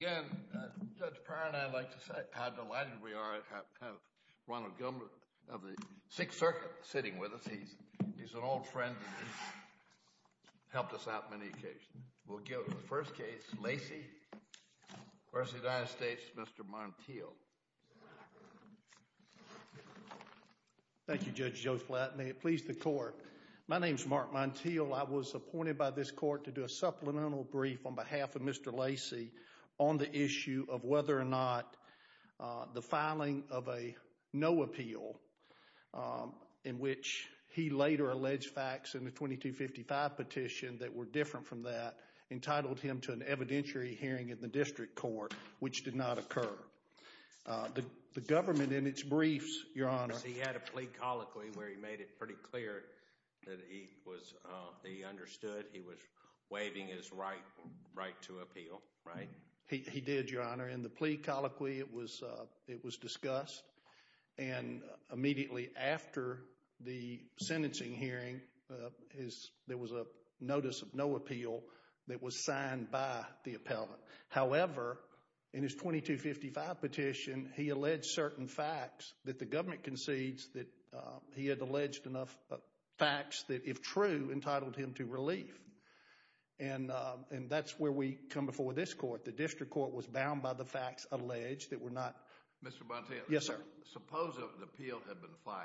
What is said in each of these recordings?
Again, Judge Pryor and I would like to say how delighted we are to have Ronald Gilmore of the Sixth Circuit sitting with us. He's an old friend and he's helped us out on many occasions. We'll give the first case, Lacey v. United States, Mr. Montiel. Thank you, Judge Joe Flatton. May it please the Court. My name is Mark Montiel. I was appointed by this Court to do a supplemental brief on behalf of Mr. Lacey on the issue of whether or not the filing of a no appeal, in which he later alleged facts in the 2255 petition that were different from that, entitled him to an evidentiary hearing in the District Court, which did not occur. The government in its briefs, Your Honor— He understood he was waiving his right to appeal, right? He did, Your Honor. In the plea colloquy, it was discussed and immediately after the sentencing hearing, there was a notice of no appeal that was signed by the appellant. However, in his 2255 petition, he alleged certain facts that the government concedes that he had alleged enough facts that, if true, entitled him to relief. And that's where we come before this Court. The District Court was bound by the facts alleged that were not— Mr. Montiel. Yes, sir. Suppose an appeal had been filed.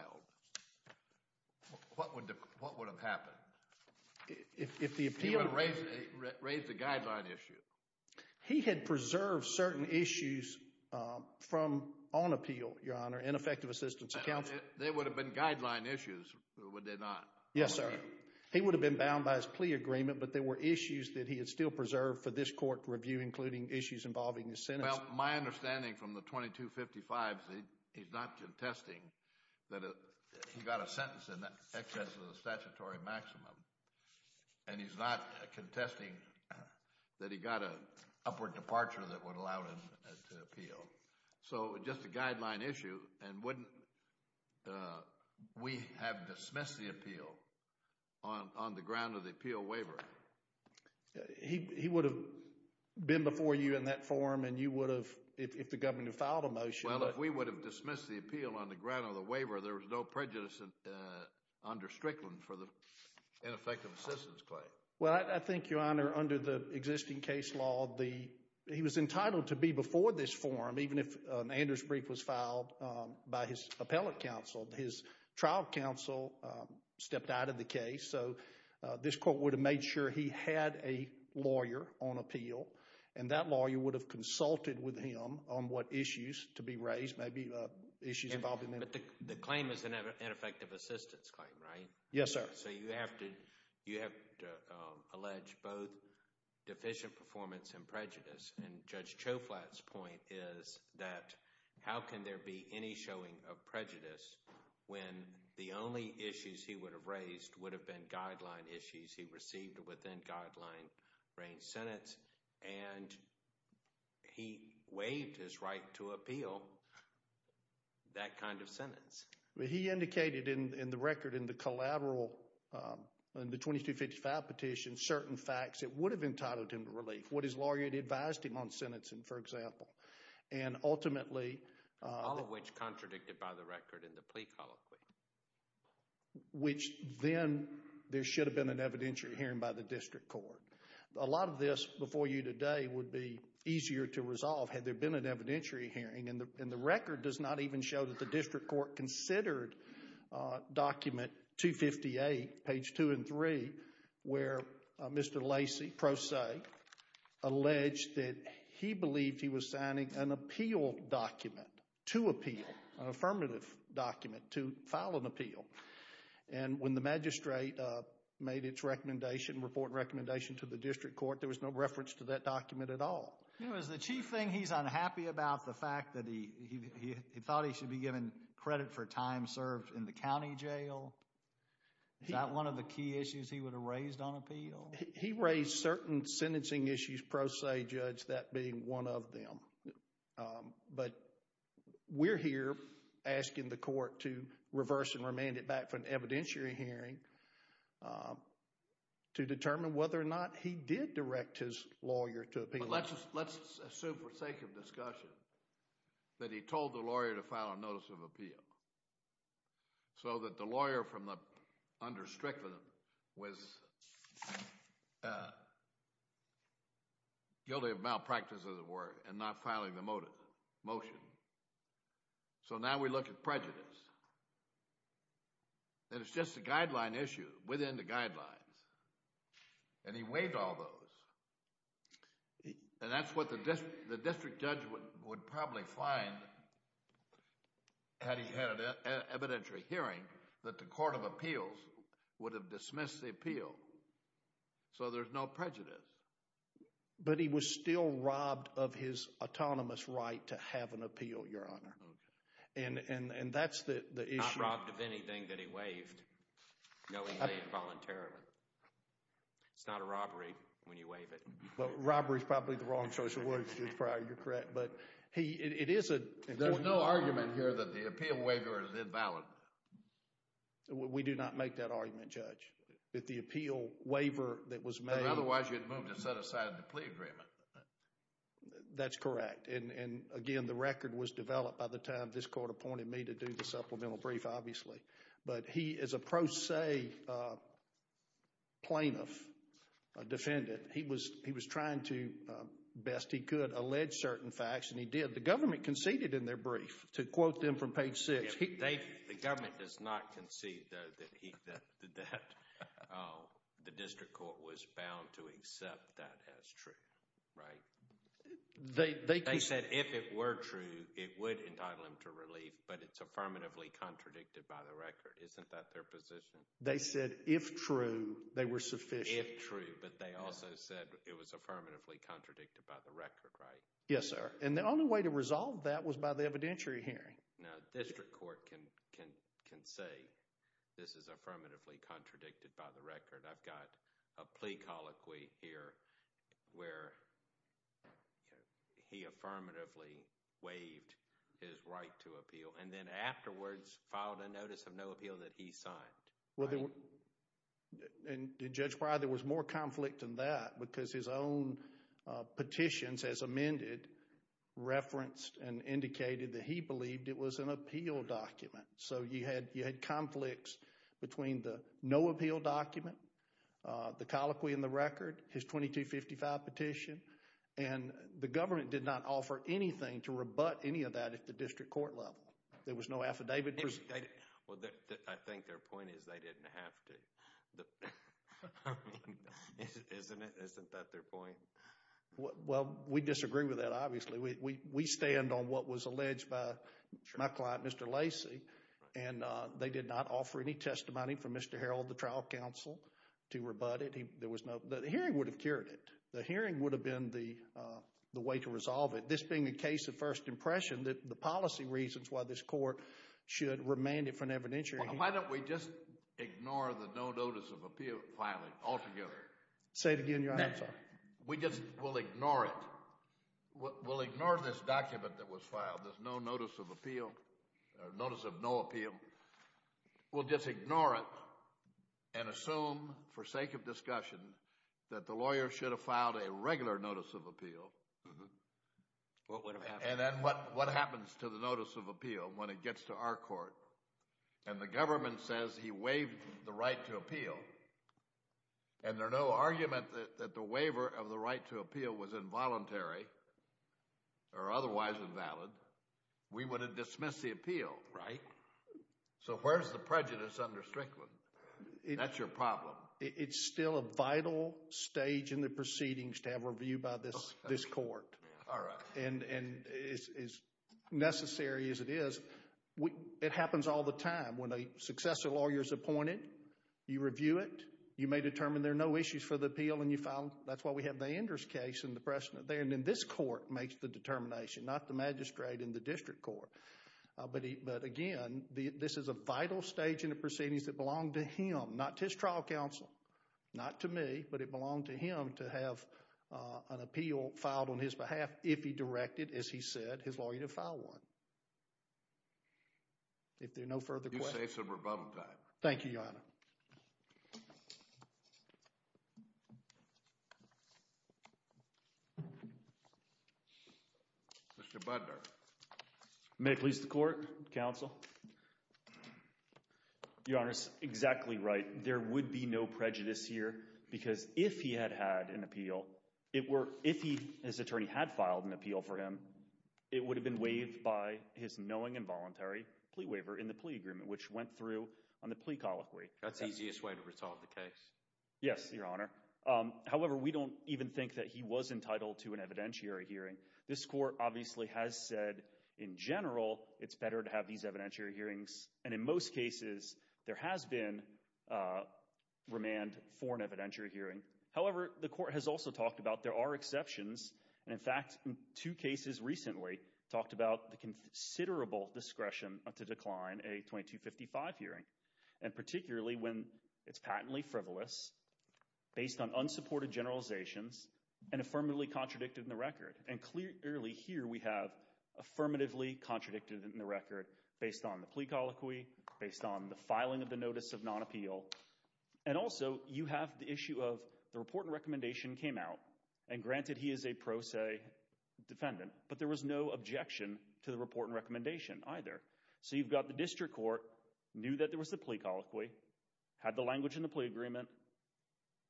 What would have happened? If the appeal— He would have raised a guideline issue. He had preserved certain issues from—on appeal, Your Honor, in effective assistance of counsel. They would have been guideline issues, would they not? Yes, sir. He would have been bound by his plea agreement, but there were issues that he had still preserved for this Court to review, including issues involving his sentence. Well, my understanding from the 2255 is that he's not contesting that he got a sentence in excess of the statutory maximum, and he's not contesting that he got an upward departure that would allow him to appeal. So just a guideline issue, and wouldn't—we have dismissed the appeal on the ground of the appeal waiver. He would have been before you in that forum, and you would have—if the government had filed a motion— Well, I think, Your Honor, under the existing case law, the—he was entitled to be before this forum, even if an Anders' brief was filed by his appellate counsel. His trial counsel stepped out of the case, so this Court would have made sure he had a lawyer on appeal, and that lawyer would have consulted with him on what issues to be raised, maybe issues involving— But the claim is an ineffective assistance claim, right? Yes, sir. So you have to—you have to allege both deficient performance and prejudice, and Judge Choflat's point is that how can there be any showing of prejudice when the only issues he would have raised would have been guideline issues he received within guideline-range sentence, and he waived his right to appeal that kind of sentence. He indicated in the record, in the collateral, in the 2255 petition, certain facts that would have entitled him to relief, what his lawyer had advised him on sentencing, for example, and ultimately— All of which contradicted by the record in the plea colloquy. Which then, there should have been an evidentiary hearing by the district court. A lot of this, before you today, would be easier to resolve had there been an evidentiary hearing, and the record does not even show that the district court considered document 258, page two and three, where Mr. Lacey, pro se, alleged that he believed he was signing an appeal document, to appeal, an affirmative document to file an appeal. When the magistrate made its report and recommendation to the district court, there was no reference to that document at all. Is the chief thing he's unhappy about the fact that he thought he should be given credit for time served in the county jail? Is that one of the key issues he would have raised on appeal? He raised certain sentencing issues, pro se, Judge, that being one of them, but we're here asking the court to reverse and remand it back for an evidentiary hearing to determine whether or not he did direct his lawyer to appeal. Let's assume, for sake of discussion, that he told the lawyer to file a notice of appeal, so that the lawyer from under Strickland was guilty of malpractice, as it were, and not filing the motion. So now we look at prejudice, and it's just a guideline issue within the guidelines, and he waived all those, and that's what the district judge would probably find, had he had an evidentiary hearing, that the court of appeals would have dismissed the appeal. So there's no prejudice. But he was still robbed of his autonomous right to have an appeal, Your Honor. And that's the issue. Not robbed of anything that he waived, knowing that he waived voluntarily. It's not a robbery when you waive it. Well, robbery's probably the wrong social order to use prior, you're correct, but he, it is a... There's no argument here that the appeal waiver is invalid. We do not make that argument, Judge, that the appeal waiver that was made... That was never set aside in the plea agreement. That's correct. And again, the record was developed by the time this court appointed me to do the supplemental brief, obviously. But he is a pro se plaintiff, a defendant. He was trying to, best he could, allege certain facts, and he did. The government conceded in their brief, to quote them from page six. The government does not concede, though, that he, that the district court was bound to accept that as true, right? They said if it were true, it would entitle him to relief, but it's affirmatively contradicted by the record. Isn't that their position? They said if true, they were sufficient. If true, but they also said it was affirmatively contradicted by the record, right? Yes, sir. And the only way to resolve that was by the evidentiary hearing. Now, the district court can say this is affirmatively contradicted by the record. I've got a plea colloquy here where he affirmatively waived his right to appeal, and then afterwards filed a notice of no appeal that he signed, right? And Judge Pryor, there was more conflict than that, because his own petitions as amended referenced and indicated that he believed it was an appeal document. So you had conflicts between the no appeal document, the colloquy in the record, his 2255 petition, and the government did not offer anything to rebut any of that at the district court level. There was no affidavit. Well, I think their point is they didn't have to. I mean, isn't that their point? Well, we disagree with that, obviously. We stand on what was alleged by my client, Mr. Lacey, and they did not offer any testimony from Mr. Harold, the trial counsel, to rebut it. The hearing would have cured it. The hearing would have been the way to resolve it. This being a case of first impression, the policy reasons why this court should remand it for an evidentiary hearing. Why don't we just ignore the no notice of appeal filing altogether? Say it again, Your Honor. We'll ignore it. We'll ignore this document that was filed, this no notice of appeal, or notice of no appeal. We'll just ignore it and assume, for sake of discussion, that the lawyer should have filed a regular notice of appeal. And then what happens to the notice of appeal when it gets to our court and the government says he waived the right to appeal, and there's no argument that the waiver of the right to appeal was involuntary or otherwise invalid, we would have dismissed the appeal, right? So where's the prejudice under Strickland? That's your problem. It's still a vital stage in the proceedings to have a review by this court, and as necessary as it is, it happens all the time. When a successive lawyer is appointed, you review it. You may determine there are no issues for the appeal, and you file. That's why we have the Enders case in the precedent there, and then this court makes the determination, not the magistrate and the district court. But again, this is a vital stage in the proceedings that belonged to him, not to his trial counsel. Not to me, but it belonged to him to have an appeal filed on his behalf if he directed, as he said, his lawyer to file one. If there are no further questions. You say some rebuttal time. Thank you, Your Honor. Mr. Budner. May it please the court, counsel. Your Honor, it's exactly right. There would be no prejudice here, because if he had had an appeal, if his attorney had made his knowing and voluntary plea waiver in the plea agreement, which went through on the plea colloquy. That's the easiest way to resolve the case. Yes, Your Honor. However, we don't even think that he was entitled to an evidentiary hearing. This court obviously has said, in general, it's better to have these evidentiary hearings, and in most cases, there has been remand for an evidentiary hearing. However, the court has also talked about there are exceptions, and in fact, two cases recently talked about the considerable discretion to decline a 2255 hearing, and particularly when it's patently frivolous, based on unsupported generalizations, and affirmatively contradicted in the record. And clearly here, we have affirmatively contradicted in the record based on the plea colloquy, based on the filing of the notice of non-appeal. And also, you have the issue of the report and recommendation came out, and granted he is a pro se defendant, but there was no objection to the report and recommendation either. So you've got the district court, knew that there was a plea colloquy, had the language in the plea agreement,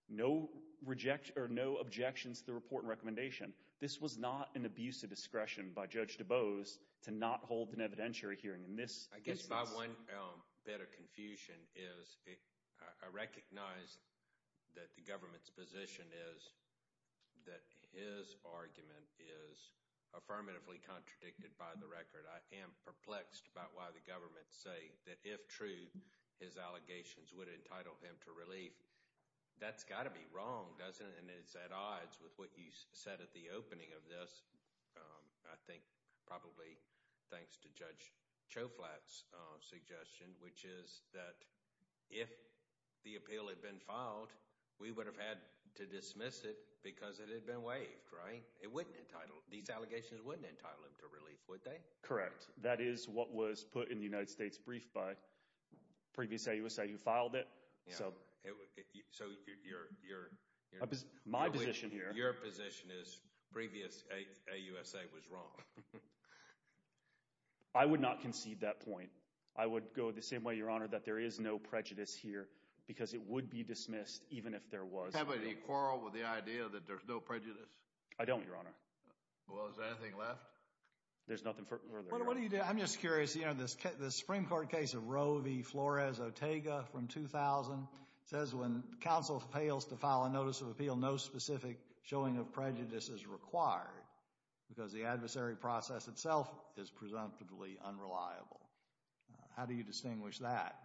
no objections to the report and recommendation. This was not an abuse of discretion by Judge DuBose to not hold an evidentiary hearing. I guess my one bit of confusion is, I recognize that the government's position is that his argument is affirmatively contradicted by the record. I am perplexed about why the government say that if true, his allegations would entitle him to relief. That's got to be wrong, doesn't it? And it's at odds with what you said at the opening of this, I think probably thanks to Judge Choflat's suggestion, which is that if the appeal had been filed, we would have had to dismiss it because it had been waived, right? It wouldn't entitle, these allegations wouldn't entitle him to relief, would they? Correct. That is what was put in the United States brief by previous AUSA. You filed it, so my position here. Your position is previous AUSA was wrong. I would not concede that point. I would go the same way, Your Honor, that there is no prejudice here because it would be dismissed even if there was. Have they quarreled with the idea that there's no prejudice? I don't, Your Honor. Well, is there anything left? There's nothing further. Well, what do you do? I'm just curious. You know, this Supreme Court case of Roe v. Flores-Otega from 2000 says when counsel fails to file a notice of appeal, no specific showing of prejudice is required because the adversary process itself is presumptively unreliable. How do you distinguish that?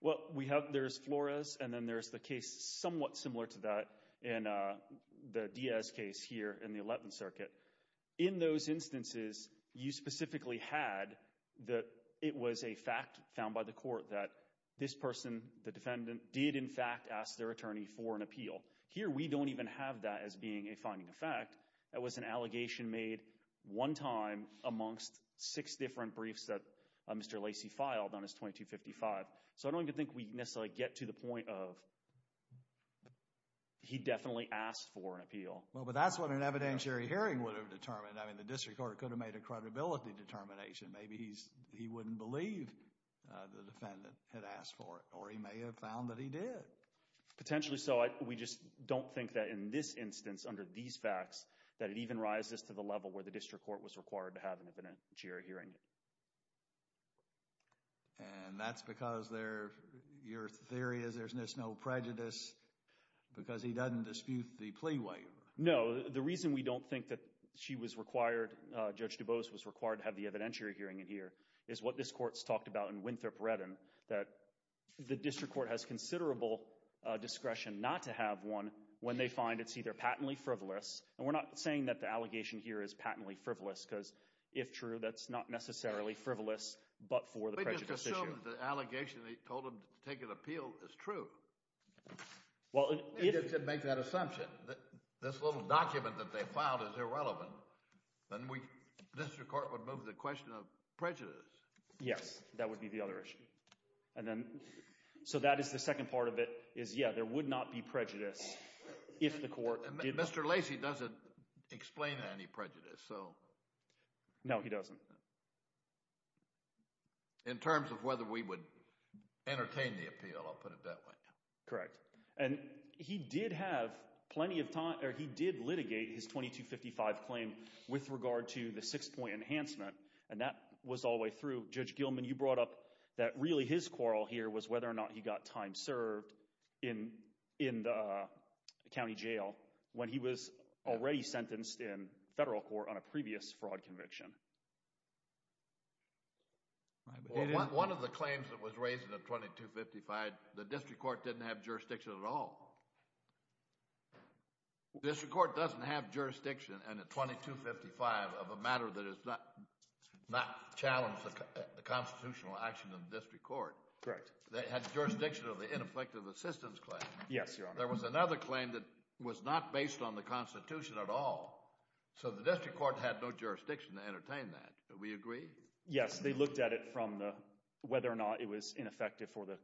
Well, we have, there's Flores and then there's the case somewhat similar to that in the Diaz case here in the Eleventh Circuit. In those instances, you specifically had that it was a fact found by the court that this person, the defendant, did in fact ask their attorney for an appeal. Here we don't even have that as being a finding of fact. That was an allegation made one time amongst six different briefs that Mr. Lacey filed on his 2255. So, I don't even think we can necessarily get to the point of he definitely asked for an appeal. Well, but that's what an evidentiary hearing would have determined. I mean, the district court could have made a credibility determination. Maybe he wouldn't believe the defendant had asked for it or he may have found that he did. Potentially so. We just don't think that in this instance under these facts that it even rises to the level where the district court was required to have an evidentiary hearing. And that's because your theory is there's no prejudice because he doesn't dispute the plea waiver. No. The reason we don't think that she was required, Judge DuBose was required to have the evidentiary hearing in here is what this court's talked about in Winthrop-Redden, that the district court has considerable discretion not to have one when they find it's either patently frivolous and we're not saying that the allegation here is patently frivolous because if true, that's not necessarily frivolous but for the prejudice issue. We just assume that the allegation they told him to take an appeal is true. Well, if... If they make that assumption, that this little document that they found is irrelevant, then we, the district court would move the question of prejudice. Yes. That would be the other issue. And then, so that is the second part of it, is yeah, there would not be prejudice if the court did not... Mr. Lacey doesn't explain any prejudice, so... No, he doesn't. In terms of whether we would entertain the appeal, I'll put it that way. Correct. And he did have plenty of time, or he did litigate his 2255 claim with regard to the six-point enhancement and that was all the way through. Judge Gilman, you brought up that really his quarrel here was whether or not he got time served in the county jail when he was already sentenced in federal court on a previous fraud conviction. Right, but he didn't... Well, one of the claims that was raised in the 2255, the district court didn't have jurisdiction at all. The district court doesn't have jurisdiction in the 2255 of a matter that is not challenged the constitutional action of the district court. Correct. They had jurisdiction of the ineffective assistance claim. Yes, Your Honor. There was another claim that was not based on the Constitution at all, so the district court had no jurisdiction to entertain that. Do we agree? Yes. They looked at it from the whether or not it was ineffective for the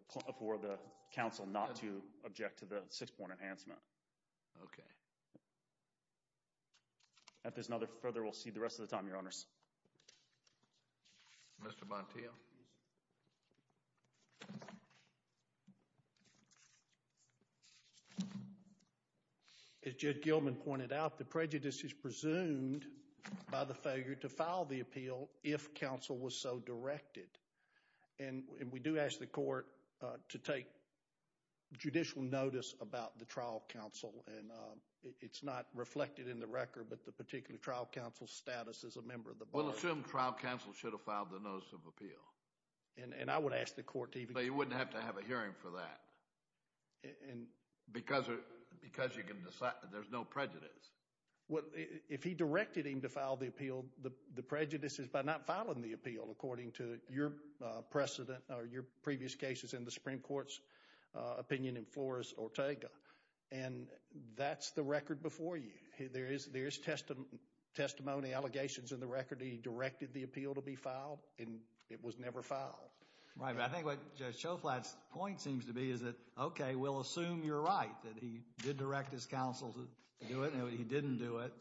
council not to object to the six-point enhancement. Okay. If there's no further, we'll see the rest of the time, Your Honors. Mr. Montiel. As Judge Gilman pointed out, the prejudice is presumed by the failure to file the appeal if counsel was so directed. We do ask the court to take judicial notice about the trial counsel. It's not reflected in the record, but the particular trial counsel's status as a member of the body. We'll assume trial counsel should have filed the notice of appeal. I would ask the court to even... You wouldn't have to have a hearing for that because there's no prejudice. If he directed him to file the appeal, the prejudice is by not filing the appeal according to your precedent or your previous cases in the Supreme Court's opinion in Flores Ortega. That's the record before you. There is testimony, allegations in the record that he directed the appeal to be filed, and it was never filed. Right, but I think what Judge Schoflat's point seems to be is that, okay, we'll assume you're right that he did direct his counsel to do it, and he didn't do it.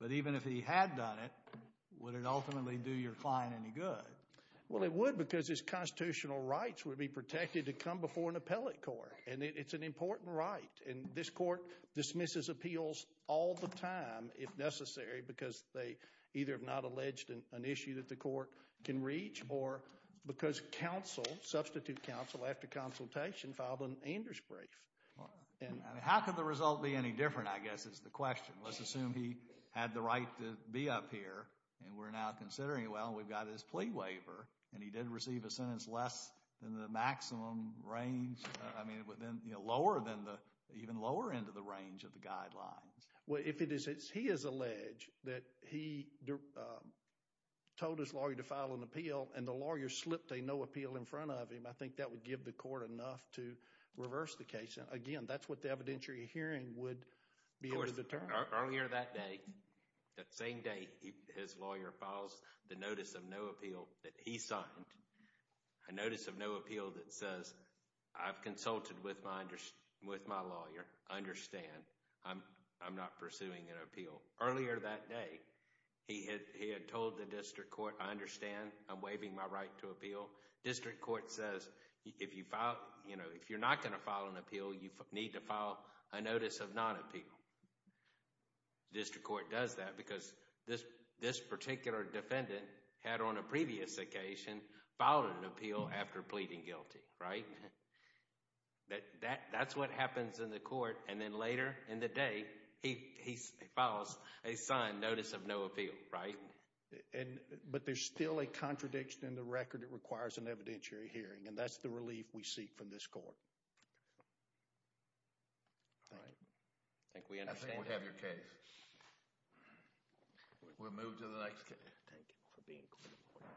But even if he had done it, would it ultimately do your client any good? Well, it would because his constitutional rights would be protected to come before an appellate court, and it's an important right. This court dismisses appeals all the time if necessary because they either have not alleged an issue that the court can reach or because counsel, substitute counsel, after consultation filed an Anders brief. How could the result be any different, I guess, is the question. Let's assume he had the right to be up here, and we're now considering, well, we've got his plea waiver, and he did receive a sentence less than the maximum range... I mean, lower than the... even lower end of the range of the guidelines. Well, if it is... he has alleged that he told his lawyer to file an appeal, and the lawyer slipped a no appeal in front of him, I think that would give the court enough to reverse the case. Again, that's what the evidentiary hearing would be able to determine. Of course, earlier that day, that same day, his lawyer files the notice of no appeal that he signed, a notice of no appeal that says, I've consulted with my lawyer, I understand, I'm not pursuing an appeal. Earlier that day, he had told the district court, I understand, I'm waiving my right to appeal. District court says, if you're not going to file an appeal, you need to file a notice of non-appeal. District court does that because this particular defendant had, on a previous occasion, filed an appeal after pleading guilty, right? That's what happens in the court, and then later in the day, he files a signed notice of no appeal, right? But there's still a contradiction in the record that requires an evidentiary hearing, and that's the relief we seek from this court. All right. I think we understand. I think we have your case. We'll move to the next case. Thank you for being here.